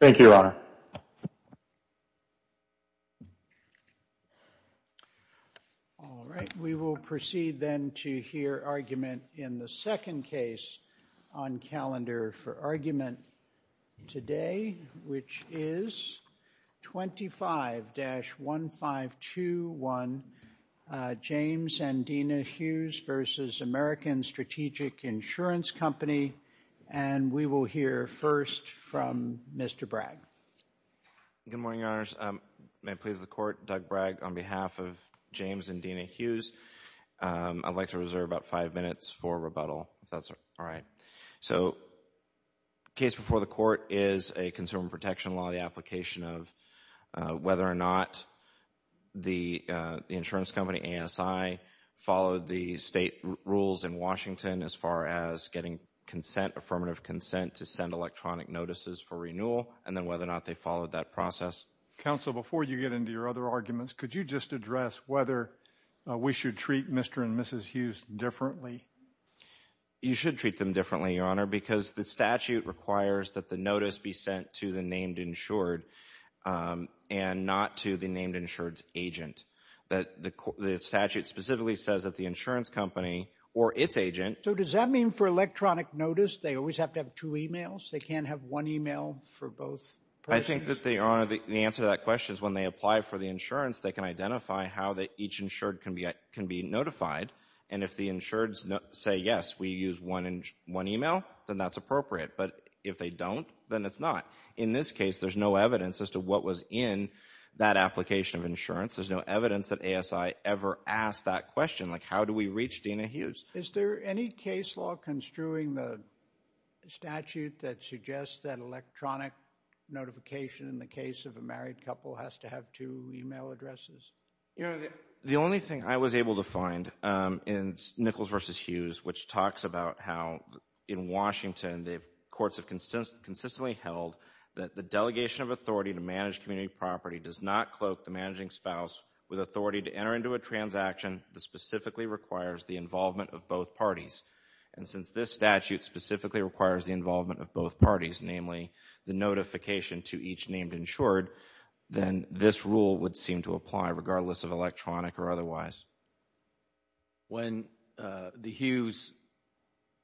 Thank you, Your Honor. All right, we will proceed then to hear argument in the second case on calendar for argument today, which is 25-1521, James and Dina Hughes v. American Strategic Insurance Company. And we will hear first from Mr. Bragg. Good morning, Your Honors. May it please the Court, Doug Bragg, on behalf of James and Dina Hughes. I'd like to reserve about five minutes for rebuttal, if that's all right. So the case before the Court is a consumer protection law, the application of whether or not the insurance company, ASI, followed the state rules in Washington as far as getting consent, affirmative consent, to send electronic notices for renewal and then whether or not they followed that process. Counsel, before you get into your other arguments, could you just address whether we should treat Mr. and Mrs. Hughes differently? You should treat them differently, Your Honor, because the statute requires that the notice be sent to the named insured and not to the named insured's agent. The statute specifically says that the insurance company or its agent... So does that mean for electronic notice, they always have to have two emails? They can't have one email for both persons? I think that, Your Honor, the answer to that question is when they apply for the insurance, they can identify how each insured can be notified. And if the insureds say, yes, we use one email, then that's appropriate. But if they don't, then it's not. In this case, there's no evidence as to what was in that application of insurance. There's no evidence that ASI ever asked that question, like how do we reach Dena Hughes? Is there any case law construing the statute that suggests that electronic notification in the case of a married couple has to have two email addresses? The only thing I was able to find in Nichols v. Hughes, which talks about how in Washington, the courts have consistently held that the delegation of authority to manage community property does not cloak the managing spouse with authority to enter into a transaction that specifically requires the involvement of both parties. And since this statute specifically requires the involvement of both parties, namely the notification to each named insured, then this rule would seem to apply regardless of electronic or otherwise. When the Hughes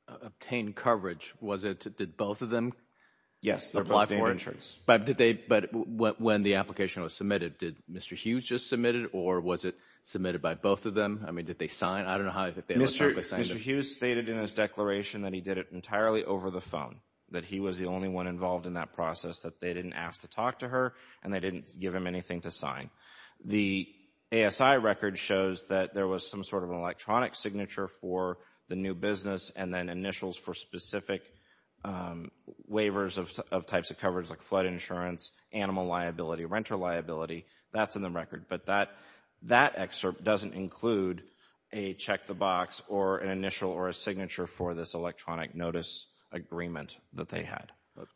obtained coverage, did both of them apply for it? Yes. But when the application was submitted, did Mr. Hughes just submit it, or was it submitted by both of them? I mean, did they sign? I don't know. Mr. Hughes stated in his declaration that he did it entirely over the phone, that he was the only one involved in that process, that they didn't ask to talk to her, and they didn't give him anything to sign. The ASI record shows that there was some sort of an electronic signature for the new business and then initials for specific um waivers of types of coverage like flood insurance, animal liability, renter liability, that's in the record. But that excerpt doesn't include a check the box or an initial or a signature for this electronic notice agreement that they had. It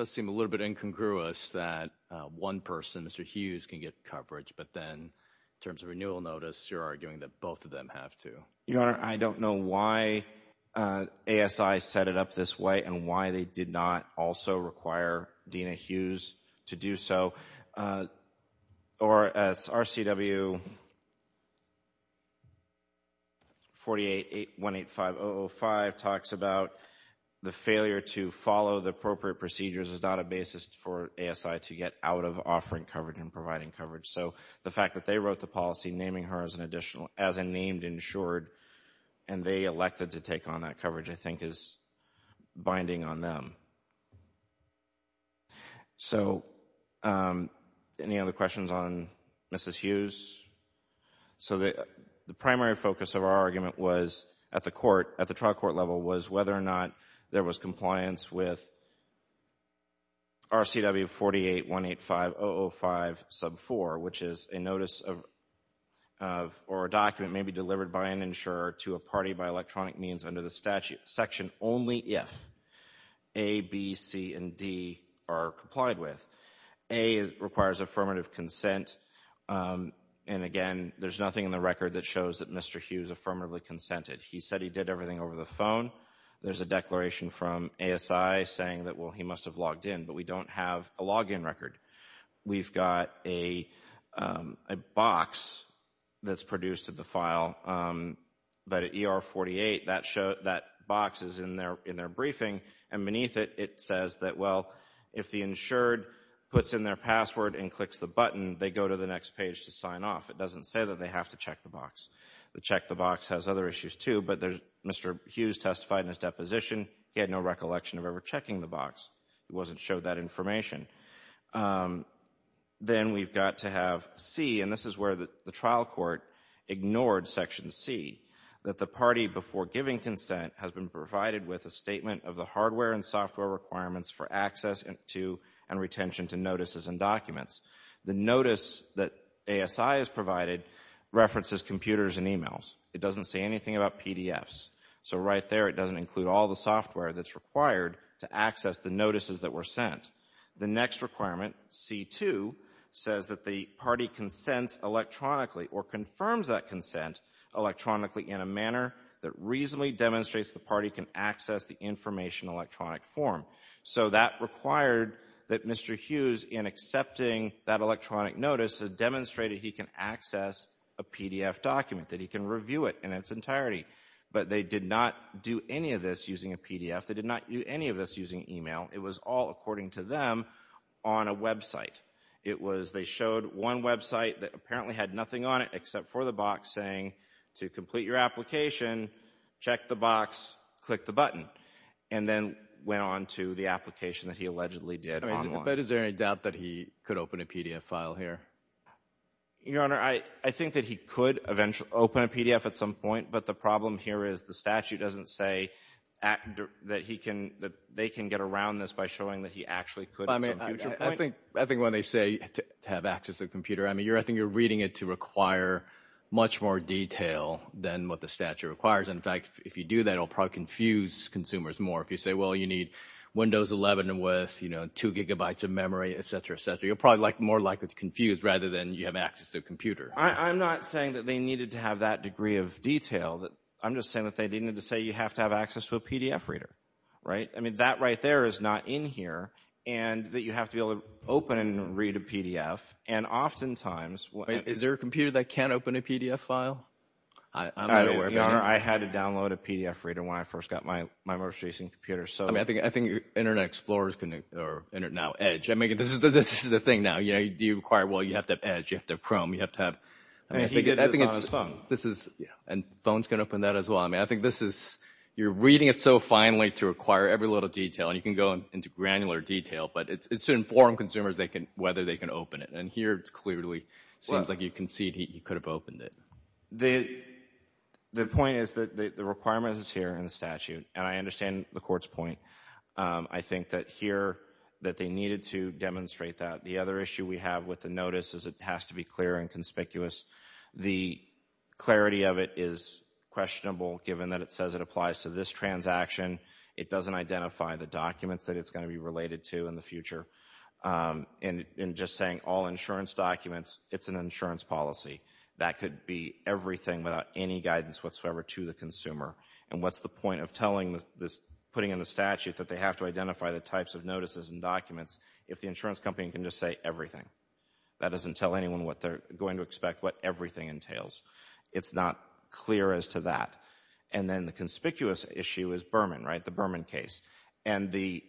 does seem a little bit incongruous that one person, Mr. Hughes, can get coverage, but then in terms of renewal notice, you're arguing that both of them have to. Your Honor, I don't know why ASI set it up this way and why they did not also require Dena Hughes to do so, or as RCW 48.185.005 talks about the failure to follow the appropriate procedures is not a basis for ASI to get out of offering coverage and providing as a named insured, and they elected to take on that coverage, I think is binding on them. So any other questions on Mrs. Hughes? So the primary focus of our argument was at the court, at the trial court level, was whether or not there was compliance with RCW 48.185.005 sub 4, which is a notice of, or a document may be delivered by an insurer to a party by electronic means under the statute section only if A, B, C, and D are complied with. A requires affirmative consent, and again, there's nothing in the record that shows that Mr. Hughes affirmatively consented. He said he did everything over the phone. There's a declaration from ASI, saying that, well, he must have logged in, but we don't have a login record. We've got a box that's produced at the file, but at ER 48, that box is in their briefing, and beneath it, it says that, well, if the insured puts in their password and clicks the button, they go to the next page to sign off. It doesn't say that they have to check the box. The check the box has other issues too, but there's Mr. Hughes testified in his deposition. He had no recollection of ever checking the box. He wasn't showed that information. Then we've got to have C, and this is where the trial court ignored section C, that the party before giving consent has been provided with a statement of the hardware and software requirements for access to and retention to notices and documents. The notice that ASI has provided references computers and emails. It doesn't say anything about PDFs, so right there, it doesn't include all the software that's required to access the notices that were sent. The next requirement, C2, says that the party consents electronically or confirms that consent electronically in a manner that reasonably demonstrates the party can access the information electronic form. So that required that Mr. Hughes, in accepting that electronic notice, has demonstrated he can access a PDF document, that he can review it in its entirety, but they did not do any of this using a PDF. They did not do any of this using email. It was all, according to them, on a website. It was, they showed one website that apparently had nothing on it except for the box saying, to complete your application, check the box, click the button, and then went on to the application that he allegedly did online. But is there any doubt that he could open a PDF file here? Your Honor, I think that he could eventually open a PDF at some point, but the problem here is the statute doesn't say that he can, that they can get around this by showing that he actually could at some future point. I think when they say to have access to a computer, I mean, much more detail than what the statute requires. In fact, if you do that, it'll probably confuse consumers more. If you say, well, you need Windows 11 with, you know, two gigabytes of memory, et cetera, et cetera, you're probably more likely to confuse rather than you have access to a computer. I'm not saying that they needed to have that degree of detail. I'm just saying that they needed to say you have to have access to a PDF reader, right? I mean, that right there is not in here, and that you have to be able to open and read a PDF. And oftentimes... Is there a computer that can't open a PDF file? I'm not aware of that. I had to download a PDF reader when I first got my most recent computer, so... I mean, I think Internet Explorers can, or now Edge, I mean, this is the thing now, you know, you require, well, you have to have Edge, you have to have Chrome, you have to have... And he did this on his phone. This is, yeah, and phones can open that as well. I mean, I think this is, you're reading it so finely to acquire every little detail, and you can go into granular detail, but it's to inform consumers whether they can open it. And here, it clearly seems like you concede he could have opened it. The point is that the requirement is here in the statute, and I understand the Court's point. I think that here that they needed to demonstrate that. The other issue we have with the notice is it has to be clear and conspicuous. The clarity of it is questionable, given that it says it applies to this transaction. It doesn't identify the documents that it's going to be related to in the future. And just saying all insurance documents, it's an insurance policy. That could be everything without any guidance whatsoever to the consumer. And what's the point of telling this, putting in the statute that they have to identify the types of notices and documents if the insurance company can just say everything? That doesn't tell anyone what they're going to expect, what everything entails. It's not clear as to that. And then the conspicuous issue is Berman, right, the Berman case. And the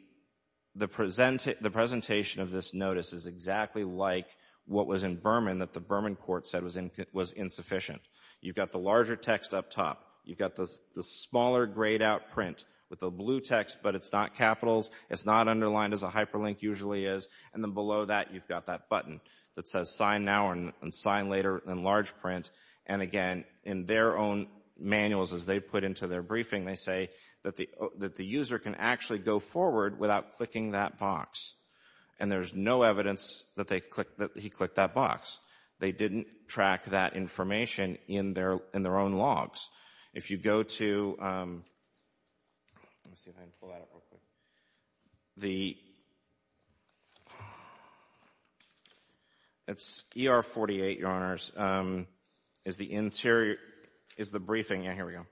presentation of this notice is exactly like what was in Berman that the Berman Court said was insufficient. You've got the larger text up top. You've got the smaller grayed-out print with the blue text, but it's not capitals. It's not underlined as a hyperlink usually is. And then below that, you've got that button that says sign now and sign later in large print. And again, in their own manuals as they put into their briefing, they say that the user can actually go forward without clicking that box. And there's no evidence that he clicked that box. They didn't track that information in their own logs. If you go to, let me see if I can pull is the interior is the briefing. Yeah, here we go.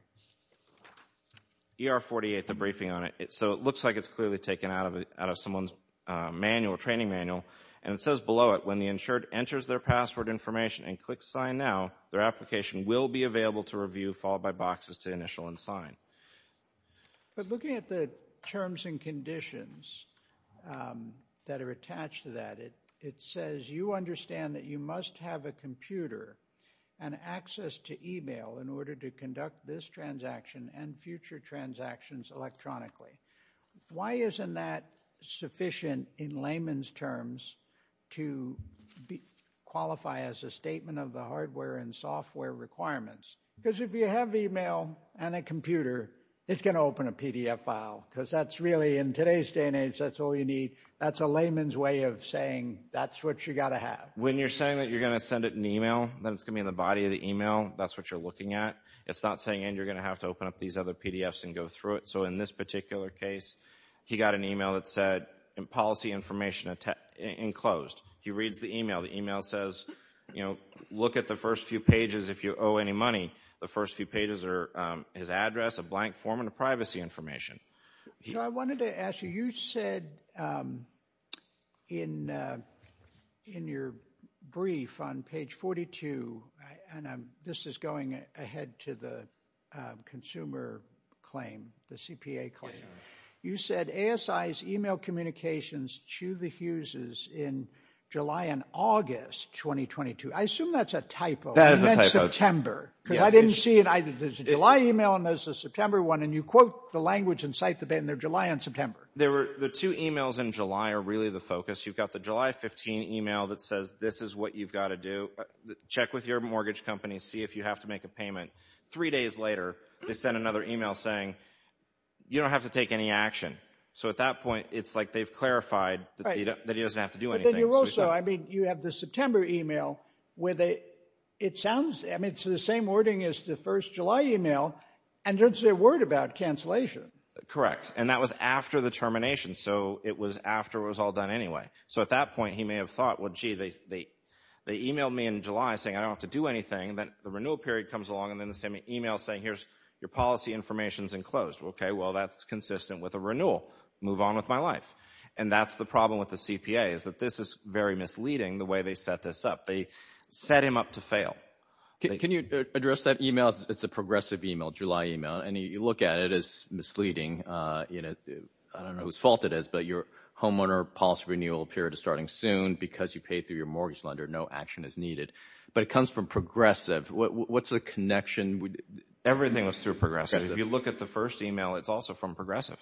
ER 48, the briefing on it. So it looks like it's clearly taken out of someone's manual, training manual. And it says below it, when the insured enters their password information and click sign now, their application will be available to review followed by boxes to initial and sign. But looking at the terms and conditions that are attached to that, it says you understand that you must have a computer and access to email in order to conduct this transaction and future transactions electronically. Why isn't that sufficient in layman's terms to qualify as a statement of the hardware and software requirements? Because if you have email and a computer, it's going to open a PDF file because that's really in today's day and age, that's all you need. That's a layman's way of that's what you got to have. When you're saying that you're going to send it in email, then it's going to be in the body of the email. That's what you're looking at. It's not saying and you're going to have to open up these other PDFs and go through it. So in this particular case, he got an email that said policy information enclosed. He reads the email. The email says, you know, look at the first few pages if you owe any money. The first few pages are his address, a blank form, and the privacy information. So I wanted to ask you, you said in your brief on page 42, and this is going ahead to the consumer claim, the CPA claim, you said ASI's email communications to the Hughes' in July and August 2022. I assume that's a typo. That is a typo. I didn't see it. There's a July email and there's a September one and you quote the language and cite the date and they're July and September. The two emails in July are really the focus. You've got the July 15 email that says this is what you've got to do. Check with your mortgage company. See if you have to make a payment. Three days later, they send another email saying you don't have to take any action. So at that point, it's like they've clarified that he doesn't have to do anything. But then you also, I mean, you have the September email where they, it sounds, I mean, it's the same wording as the first July email and don't say a word about cancellation. Correct. And that was after the termination. So it was after it was all done anyway. So at that point, he may have thought, well, gee, they emailed me in July saying I don't have to do anything. Then the renewal period comes along and then the same email saying here's your policy information is enclosed. OK, well, that's consistent with a renewal. Move on with my life. And that's the CPA is that this is very misleading the way they set this up. They set him up to fail. Can you address that email? It's a progressive email, July email. And you look at it as misleading. I don't know whose fault it is, but your homeowner policy renewal period is starting soon because you paid through your mortgage lender. No action is needed. But it comes from Progressive. What's the connection? Everything was through Progressive. If you look at the first email, it's also from Progressive.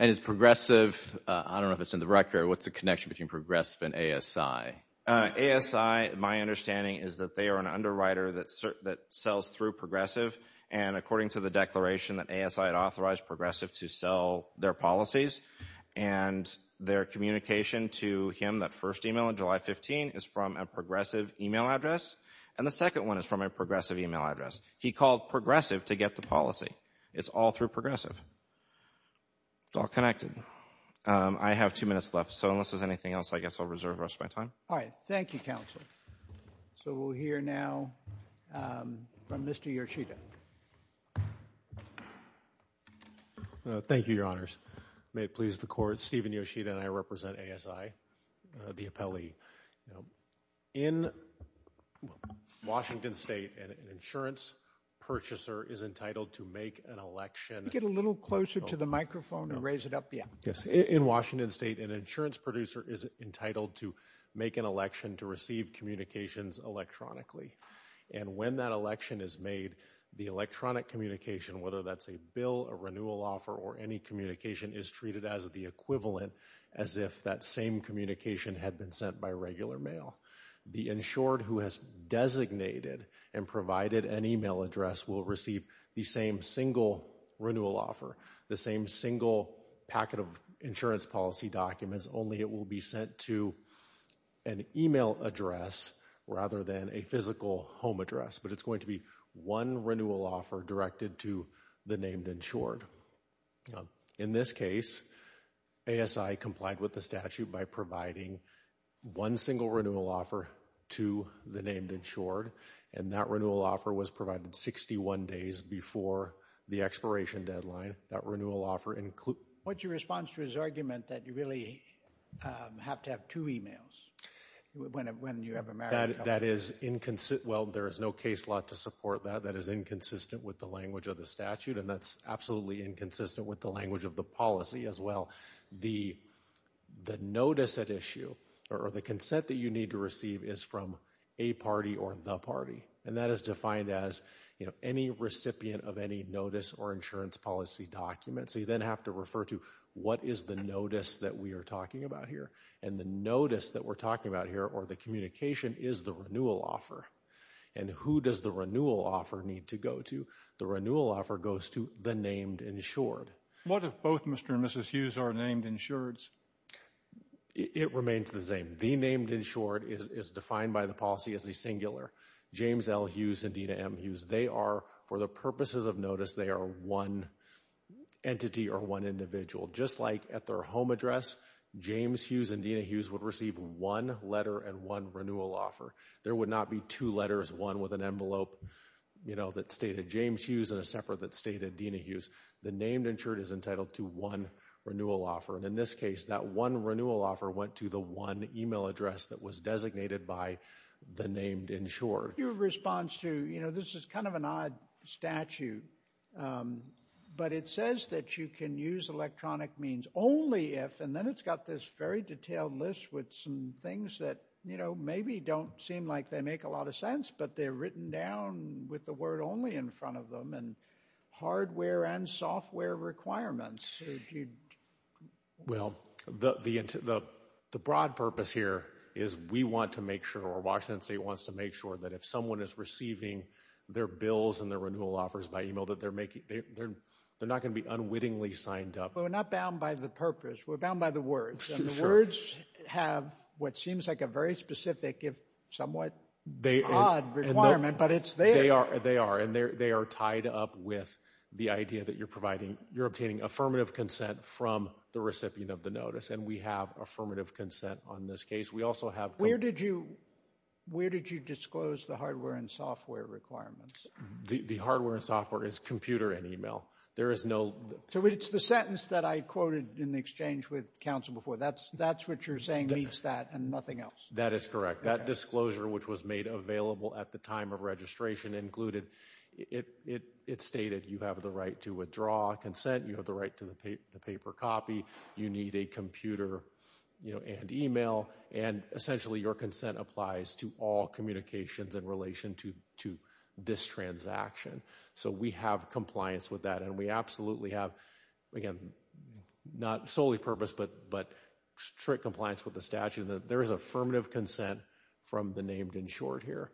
And it's Progressive. I don't know if it's in the record. What's the connection between Progressive and ASI? ASI, my understanding is that they are an underwriter that that sells through Progressive. And according to the declaration that ASI had authorized Progressive to sell their policies and their communication to him, that first email on July 15 is from a Progressive email address. And the second one is from a Progressive email address. He called Progressive to get the policy. It's all through Progressive. It's all connected. I have two minutes left. So unless there's anything else, I guess I'll reserve the rest of my time. All right. Thank you, counsel. So we'll hear now from Mr. Yoshida. Thank you, your honors. May it please the court, Stephen Yoshida and I represent ASI, the appellee. In Washington State, an insurance purchaser is entitled to make an election. Get a little closer to the microphone and raise it up. Yeah. Yes. In Washington State, an insurance producer is entitled to make an election to receive communications electronically. And when that election is made, the electronic communication, whether that's a bill, a renewal offer, or any communication, is treated as the equivalent, as if that same communication had been sent by regular mail. The insured who has designated and provided an email address will receive the same single renewal offer, the same single packet of insurance policy documents, only it will be sent to an email address rather than a physical home address. But it's going to be one renewal offer directed to the named insured. In this case, ASI complied with the statute by providing one single renewal offer to the named insured, and that renewal offer was provided 61 days before the expiration deadline. That renewal offer includes... What's your response to his argument that you really have to have two emails when you have a marriage? That is inconsistent. Well, there is no case law to support that. That is inconsistent with the language of the statute, and that's absolutely inconsistent with the language of the policy as well. The notice at issue or the consent that you need to receive is from a party or the party, and that is defined as, you know, any recipient of any notice or insurance policy documents. So you then have to refer to what is the notice that we are talking about here, and the notice that we're talking about here or the communication is the renewal offer. And who does the renewal offer need to go to? The renewal offer goes to the named insured. What if both Mr. and Mrs. Hughes are named insureds? It remains the same. The named insured is defined by the policy as a singular. James L. Hughes and Dena M. Hughes, they are, for the purposes of notice, they are one entity or one individual. Just like at their home address, James Hughes and Dena Hughes would receive one letter and one renewal offer. There would not be two letters, one with an envelope, you know, that stated James Hughes and a separate that stated Dena Hughes. The named insured is entitled to one renewal offer. And in this case, that one renewal offer went to the one email address that was designated by the named insured. Your response to, you know, this is kind of an odd statue, but it says that you can use electronic means only if, and then it's got this very detailed list with some things that, you know, maybe don't seem like they make a lot of sense, but they're written down with the word only in front of them and hardware and software requirements. Well, the broad purpose here is we want to make sure, or Washington State wants to make sure, that if someone is receiving their bills and their renewal offers by email that they're making, they're not going to be unwittingly signed up. But we're not bound by the purpose. We're bound by the words. And the words have what seems like a very specific, if somewhat odd requirement, but it's there. They are. They are. And they are tied up with the idea that you're providing, you're obtaining affirmative consent from the recipient of the notice. And we have affirmative consent on this case. We also have. Where did you disclose the hardware and software requirements? The hardware and software is computer and email. There is no. So it's the sentence that I quoted in the exchange with counsel before. That's what you're saying meets that and nothing else. That is correct. That disclosure, which was made available at the time of registration included, it stated you have the right to withdraw consent. You have the right to the paper copy. You need a computer and email. And essentially your consent applies to all communications in relation to this transaction. So we have compliance with that. And we absolutely have, again, not solely purpose, but strict compliance with the statute. There is affirmative consent from the named insured here.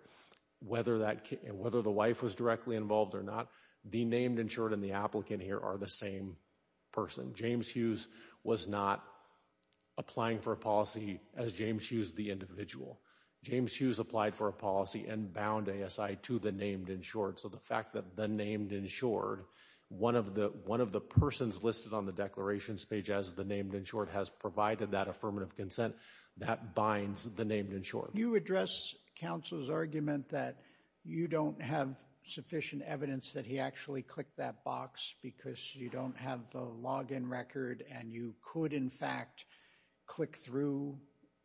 Whether the wife was directly involved or not, the named insured and the applicant here are the same person. James Hughes was not applying for a policy as James Hughes, the individual. James Hughes applied for a policy and bound ASI to the named insured. So the fact that the named insured, one of the, one of the persons listed on the declarations page as the named insured has provided that affirmative consent that binds the named insured. You address counsel's argument that you don't have sufficient evidence that he actually clicked that box because you don't have the login record and you could, in fact, click through.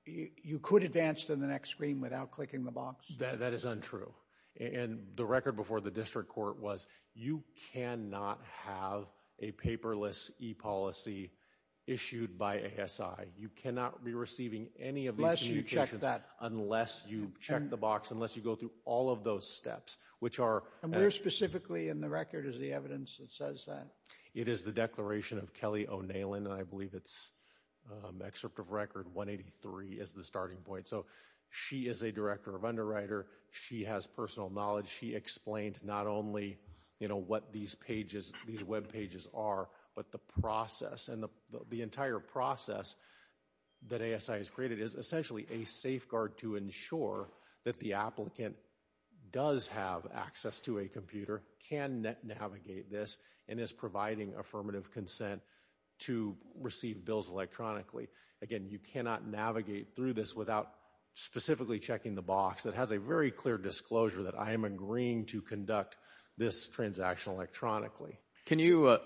You could advance to the next screen without clicking the box. That is untrue. And the record before the district court was you cannot have a paperless e-policy issued by ASI. You cannot be receiving any of these communications unless you check the box, unless you go through all of those steps, which are. And where specifically in the record is the evidence that says that? It is the declaration of Kelly O'Neill and I believe it's excerpt of record 183 is the starting point. So she is a director of underwriter. She has personal knowledge. She explained not only, you know, what these pages, these web pages are, but the process and the entire process that ASI has created is essentially a safeguard to ensure that the applicant does have access to a computer, can navigate this, and is providing affirmative consent to receive bills electronically. Again, you cannot navigate through this without specifically checking the box. It has a very clear disclosure that I am agreeing to conduct this transaction electronically. Can you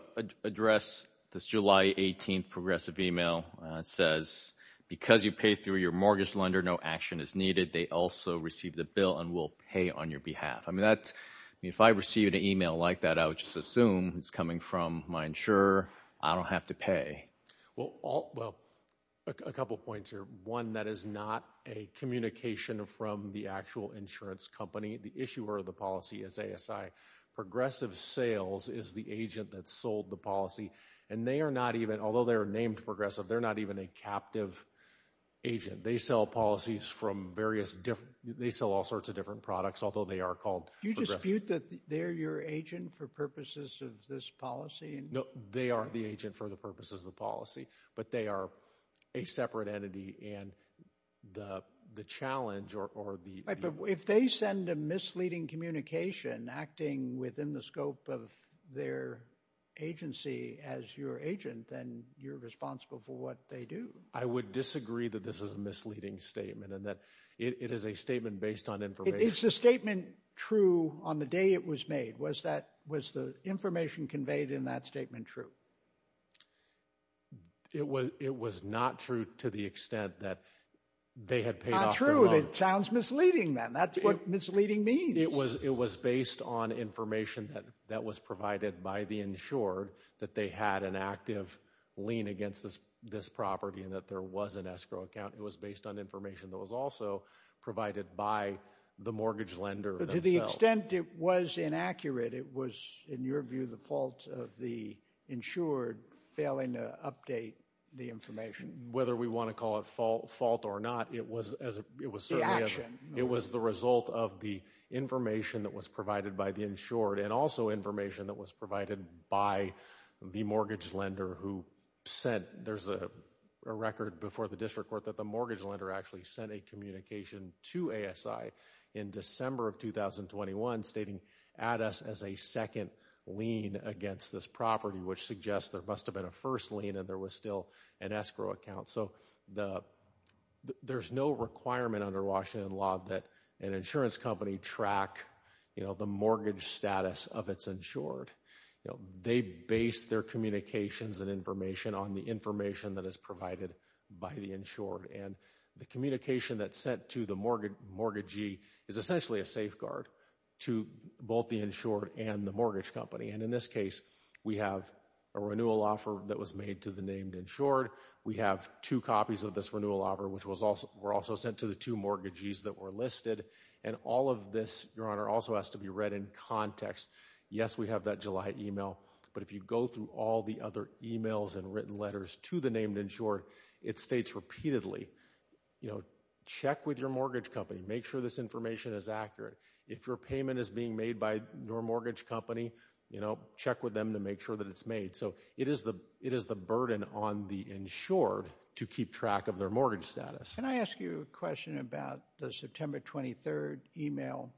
address this July 18th progressive email that says because you pay through your lender, no action is needed. They also receive the bill and will pay on your behalf. I mean, that's, if I received an email like that, I would just assume it's coming from my insurer. I don't have to pay. Well, a couple of points here. One, that is not a communication from the actual insurance company. The issuer of the policy is ASI. Progressive sales is the agent that sold the policy and they are not even, although they are named progressive, they're not even a captive agent. They sell policies from various different, they sell all sorts of different products, although they are called progressive. Do you dispute that they're your agent for purposes of this policy? No, they are the agent for the purposes of the policy, but they are a separate entity and the challenge or the... Right, but if they send a misleading communication acting within the scope of their agency as your agent, then you're responsible for what they do. I would disagree that this is a misleading statement and that it is a statement based on information. Is the statement true on the day it was made? Was the information conveyed in that statement true? It was not true to the extent that they had paid off their loan. Not true, it sounds misleading then. That's what misleading means. It was based on information that was provided by the insured that they had an active lien against this property and that there was an escrow account. It was based on information that was also provided by the mortgage lender themselves. But to the extent it was inaccurate, it was, in your view, the fault of the insured failing to update the information. Whether we want to call it fault or not, it was certainly... The action. It was the result of the information that was provided by the insured and also information that was provided by the mortgage lender who sent... There's a record before the district court that the mortgage lender actually sent a communication to ASI in December of 2021 stating ADAS as a second lien against this property, which suggests there must have been a first lien and there was still an escrow account. So there's no requirement under Washington law that an insurance company track the mortgage status of its insured. They base their communications and information on the information that is provided by the And the communication that's sent to the mortgagee is essentially a safeguard to both the insured and the mortgage company. And in this case, we have a renewal offer that was made to the named insured. We have two copies of this renewal offer, which were also sent to the two mortgagees that were listed. And all of this, Your Honor, also has to be read in context. Yes, we have that July email. But if you go through all the other emails and written letters to the named insured, it states repeatedly, you know, check with your mortgage company. Make sure this information is accurate. If your payment is being made by your mortgage company, you know, check with them to make sure that it's made. So it is the it is the burden on the insured to keep track of their mortgage status. Can I ask you a question about the September 23rd email?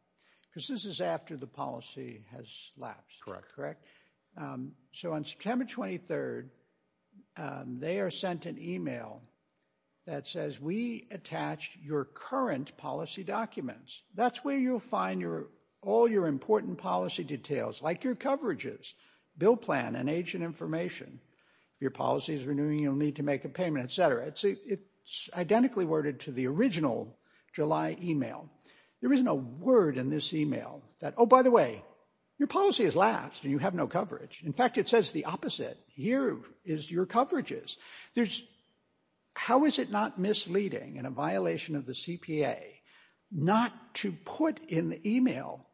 Because this is after the policy has lapsed. Correct, correct. So on September 23rd, they are sent an email that says we attached your current policy documents. That's where you'll find your all your important policy details like your coverages, bill plan and agent information. If your policy is renewing, you'll need to make a payment, et cetera. It's identically worded to the original July email. There is no word in this email that, oh, by the way, your policy has lapsed and you have no coverage. In fact, it says the opposite. Here is your coverages. There's how is it not misleading in a violation of the CPA not to put in the email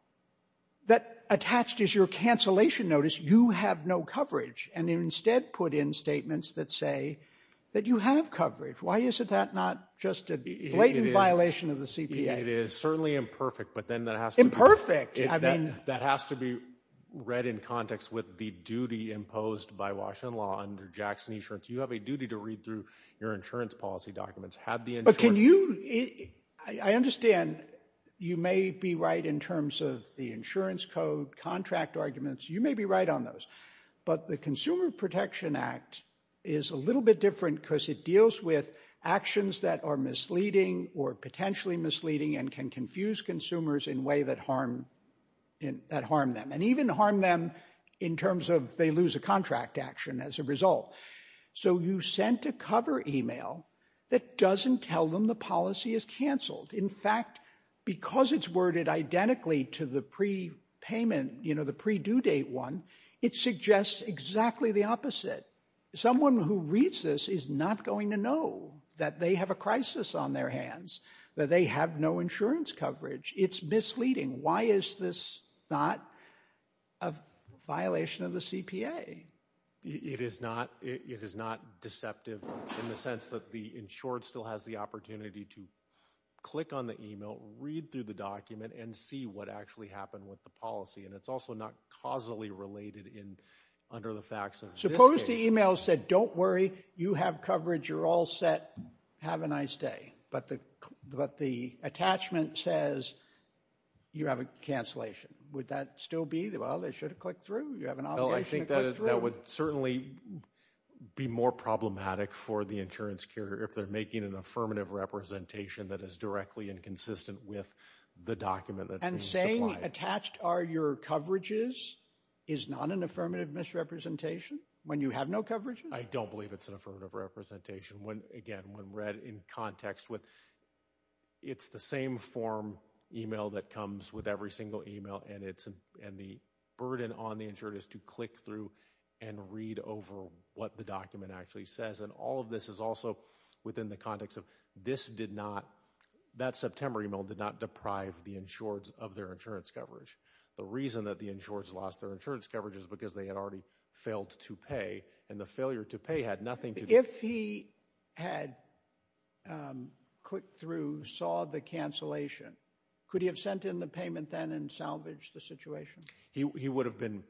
that attached is your cancellation notice. You have no coverage and instead put in statements that say that you have coverage. Why is it that not just a blatant violation of the CPA? It is certainly imperfect. But then that has to be perfect. I mean, that has to be read in context with the duty imposed by Washington law under Jackson insurance. You have a duty to read through your insurance policy documents. But can you I understand you may be right in terms of the insurance code contract arguments. You may be right on those. But the Consumer Protection Act is a little bit different because it deals with actions that are misleading or potentially misleading and can confuse consumers in a way that harm that harm them and even harm them in terms of they lose a contract action as a result. So you sent a cover email that doesn't tell them the policy is canceled. In fact, because it's worded identically to the pre payment, you know, the pre due date one, it suggests exactly the opposite. Someone who reads this is not going to know that they have a crisis on their hands, that they have no insurance coverage. It's misleading. Why is this not a violation of the CPA? It is not. It is not deceptive in the sense that the insured still has the opportunity to click on the email, read through the document and see what actually happened with the policy. And it's also not causally related in under the facts. Suppose the email said, don't worry, you have coverage. You're all set. Have a nice day. But the but the attachment says you have a cancellation. Would that still be the well, they should have clicked through. Well, I think that would certainly be more problematic for the insurance carrier if they're making an affirmative representation that is directly inconsistent with the document that and saying attached are your coverages is not an affirmative misrepresentation when you have no coverage. I don't believe it's an affirmative representation when again, when read in context with it's the same form email that comes with every single email. And it's and the burden on the insured is to click through and read over what the document actually says. And all of this is also within the context of this did not that September email did not deprive the insured of their insurance coverage. The reason that the insured lost their insurance coverage is because they had already failed to pay and the failure to pay had nothing. If he had clicked through saw the cancellation, could he have sent in the payment then and salvage the situation? He would have been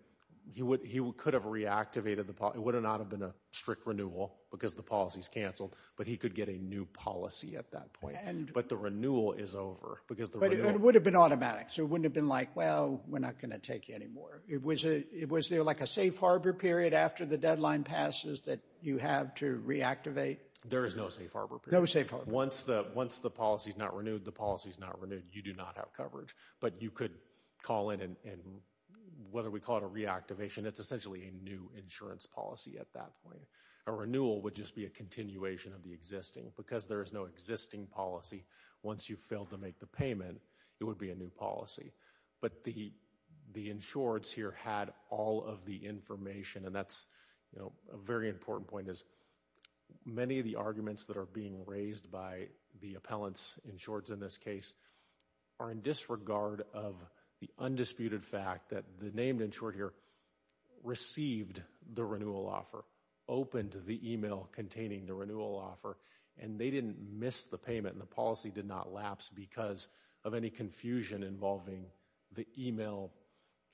he would he could have reactivated the it would not have been a strict renewal because the policies canceled, but he could get a new policy at that point. But the renewal is over because it would have been automatic. So it wouldn't have been like, well, we're not going to take you anymore. It was it was there like a safe harbor period after the deadline passes that you have to reactivate? There is no safe harbor. No safe harbor. Once the once the policy is not renewed, the policy is not renewed. You do not have coverage, but you could call in and whether we call it a reactivation, it's essentially a new insurance policy at that point. A renewal would just be a continuation of the existing because there is no existing policy. Once you fail to make the payment, it would be a new policy. But the the insureds here had all of the information. And that's a very important point is many of the arguments that are being raised by the appellants insureds in this case are in disregard of the undisputed fact that the named insured here received the renewal offer open to the email containing the renewal offer, and they didn't miss the payment. The policy did not lapse because of any confusion involving the email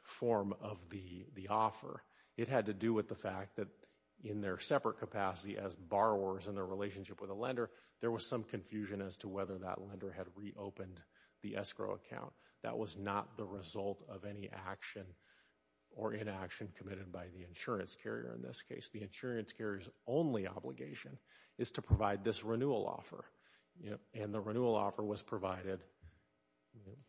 form of the offer. It had to do with the fact that in their separate capacity as borrowers in their relationship with a lender, there was some confusion as to whether that lender had reopened the escrow account. That was not the result of any action or inaction committed by the insurance carrier. In this case, the insurance carrier's only obligation is to provide this renewal offer. And the renewal offer was provided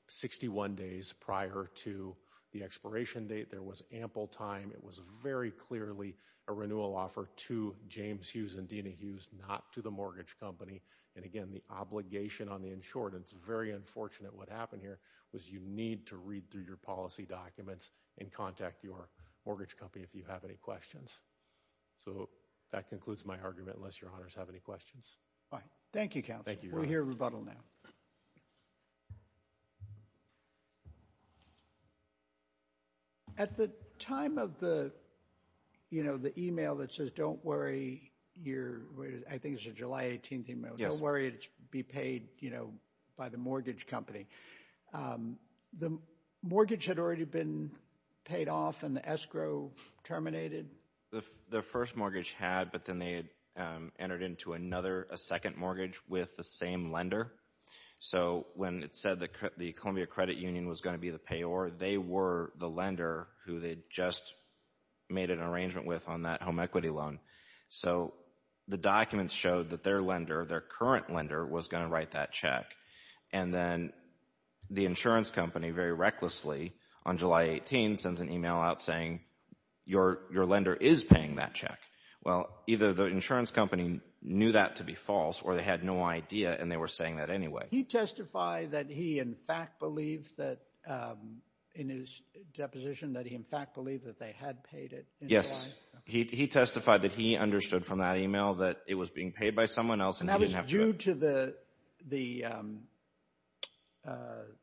61 days prior to the expiration date. There was ample time. It was very clearly a renewal offer to James Hughes and Dina Hughes, not to the mortgage company. And again, the obligation on the insured. It's very unfortunate what happened here was you need to read through your policy documents and contact your mortgage company if you have any questions. So that concludes my argument. Unless your honors have any questions. Fine. Thank you, counsel. We'll hear rebuttal now. At the time of the email that says, don't worry, I think it's a July 18th email, don't worry, it'll be paid by the mortgage company, the mortgage had already been paid off and the escrow terminated? The first mortgage had, but then they had entered into another, a second mortgage with the same lender. So when it said that the Columbia Credit Union was going to be the payor, they were the lender who they just made an arrangement with on that home equity loan. So the documents showed that their lender, their current lender was going to write that check. And then the insurance company very recklessly on July 18 sends an email out saying, your lender is paying that check. Well, either the insurance company knew that to be false or they had no idea and they were saying that anyway. He testified that he, in fact, believed that in his deposition, that he, in fact, believed that they had paid it. Yes, he testified that he understood from that email that it was being paid by someone else. And that was due to the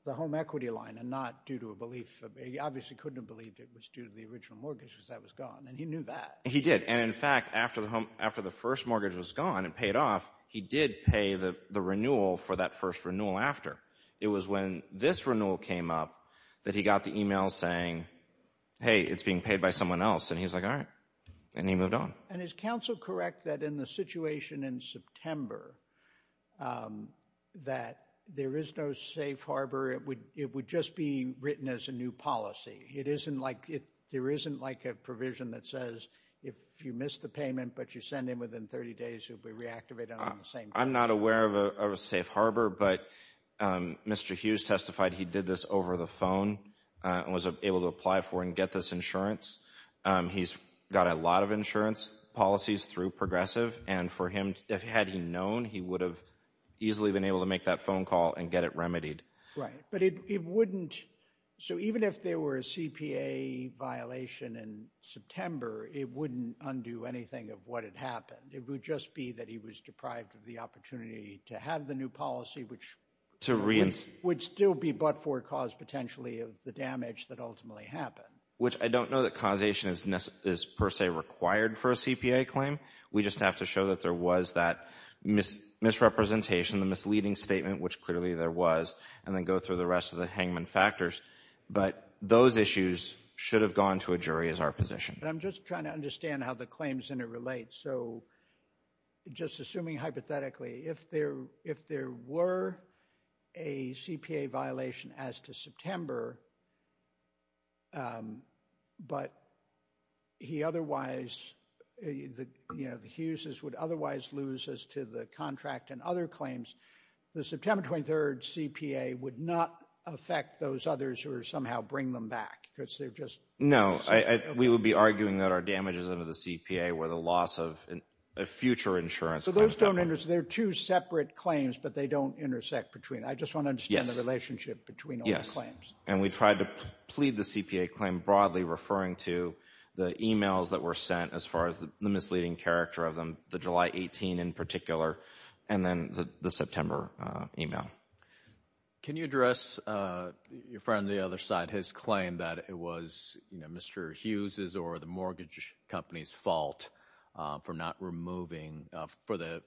home equity line and not due to a belief. He obviously couldn't have believed it was due to the original mortgage because that was gone. And he knew that. He did. And, in fact, after the first mortgage was gone and paid off, he did pay the renewal for that first renewal after. It was when this renewal came up that he got the email saying, hey, it's being paid by someone else. And he's like, all right. And he moved on. And is counsel correct that in the situation in September that there is no safe harbor? It would just be written as a new policy. It isn't like there isn't like a provision that says if you miss the payment, but you send in within 30 days, you'll be reactivated. I'm not aware of a safe harbor. But Mr. Hughes testified he did this over the phone and was able to apply for and get this insurance. He's got a lot of insurance policies through Progressive. And for him, had he known, he would have easily been able to make that phone call and get it remedied. Right. But it wouldn't. So even if there were a CPA violation in September, it wouldn't undo anything of what had happened. It would just be that he was deprived of the opportunity to have the new policy, which would still be but for a cause potentially of the damage that ultimately happened. Which I don't know that causation is per se required for a CPA claim. We just have to show that there was that misrepresentation, the misleading statement, which clearly there was, and then go through the rest of the hangman factors. But those issues should have gone to a jury as our position. I'm just trying to understand how the claims and it relates. So just assuming hypothetically, if there were a CPA violation as to September. But he otherwise, the Hughes's would otherwise lose as to the contract and other claims. The September 23rd CPA would not affect those others or somehow bring them back because they're just. No, we would be arguing that our damages under the CPA were the loss of a future insurance. So those don't interest. They're two separate claims, but they don't intersect between. I just want to understand the relationship between all the claims. And we tried to plead the CPA claim broadly referring to the emails that were sent as far as the misleading character of them. The July 18 in particular, and then the September email. Can you address your friend? The other side has claimed that it was Mr. Hughes's or the mortgage company's fault for not removing for the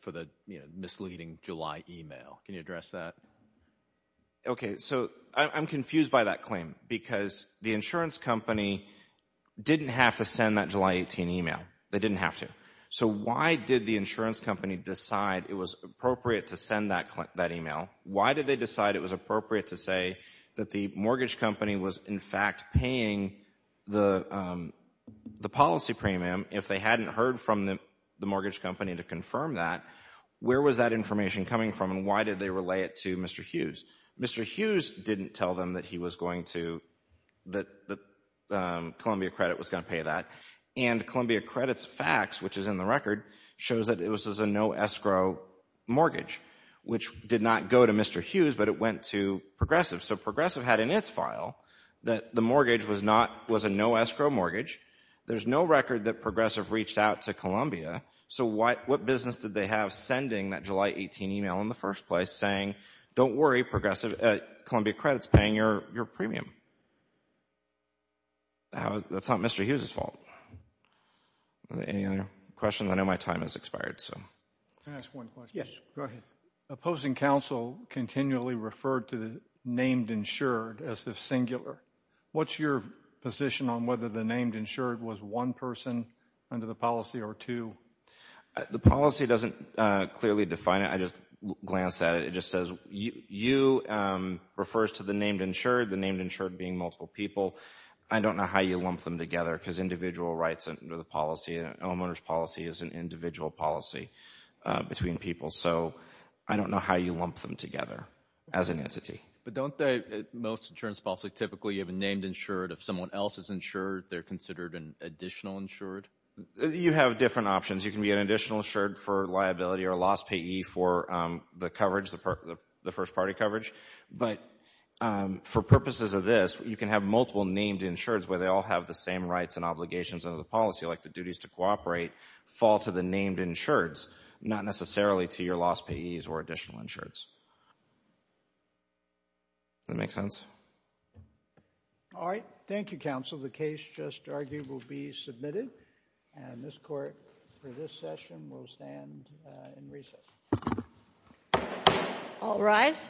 misleading July email. Can you address that? OK, so I'm confused by that claim because the insurance company didn't have to send that July 18 email. They didn't have to. So why did the insurance company decide it was appropriate to send that email? Why did they decide it was appropriate to say that the mortgage company was, in fact, paying the policy premium if they hadn't heard from the mortgage company to confirm that? Where was that information coming from? And why did they relay it to Mr. Hughes? Mr. Hughes didn't tell them that he was going to that the Columbia Credit was going to pay that. And Columbia Credit's fax, which is in the record, shows that it was a no escrow mortgage, which did not go to Mr. Hughes, but it went to Progressive. So Progressive had in its file that the mortgage was a no escrow mortgage. There's no record that Progressive reached out to Columbia. So what business did they have sending that July 18 email in the first place saying, don't worry, Columbia Credit's paying your premium? That's not Mr. Hughes' fault. Any other questions? I know my time has expired. Can I ask one question? Yes, go ahead. Opposing counsel continually referred to the named insured as the singular. What's your position on whether the named insured was one person under the policy or two? The policy doesn't clearly define it. I just glanced at it. It just says you refers to the named insured. The named insured being multiple people. I don't know how you lump them together because individual rights under the policy, homeowner's policy is an individual policy between people. So I don't know how you lump them together as an entity. But don't they, most insurance policy, typically you have a named insured. If someone else is insured, they're considered an additional insured? You have different options. You can be an additional insured for liability or loss payee for the coverage, the first party coverage. But for purposes of this, you can have multiple named insureds where they all have the same rights and obligations under the policy. Like the duties to cooperate fall to the named insureds, not necessarily to your loss payees or additional insureds. That make sense? All right. Thank you, counsel. The case just argued will be submitted. And this court for this session will stand in recess. All rise.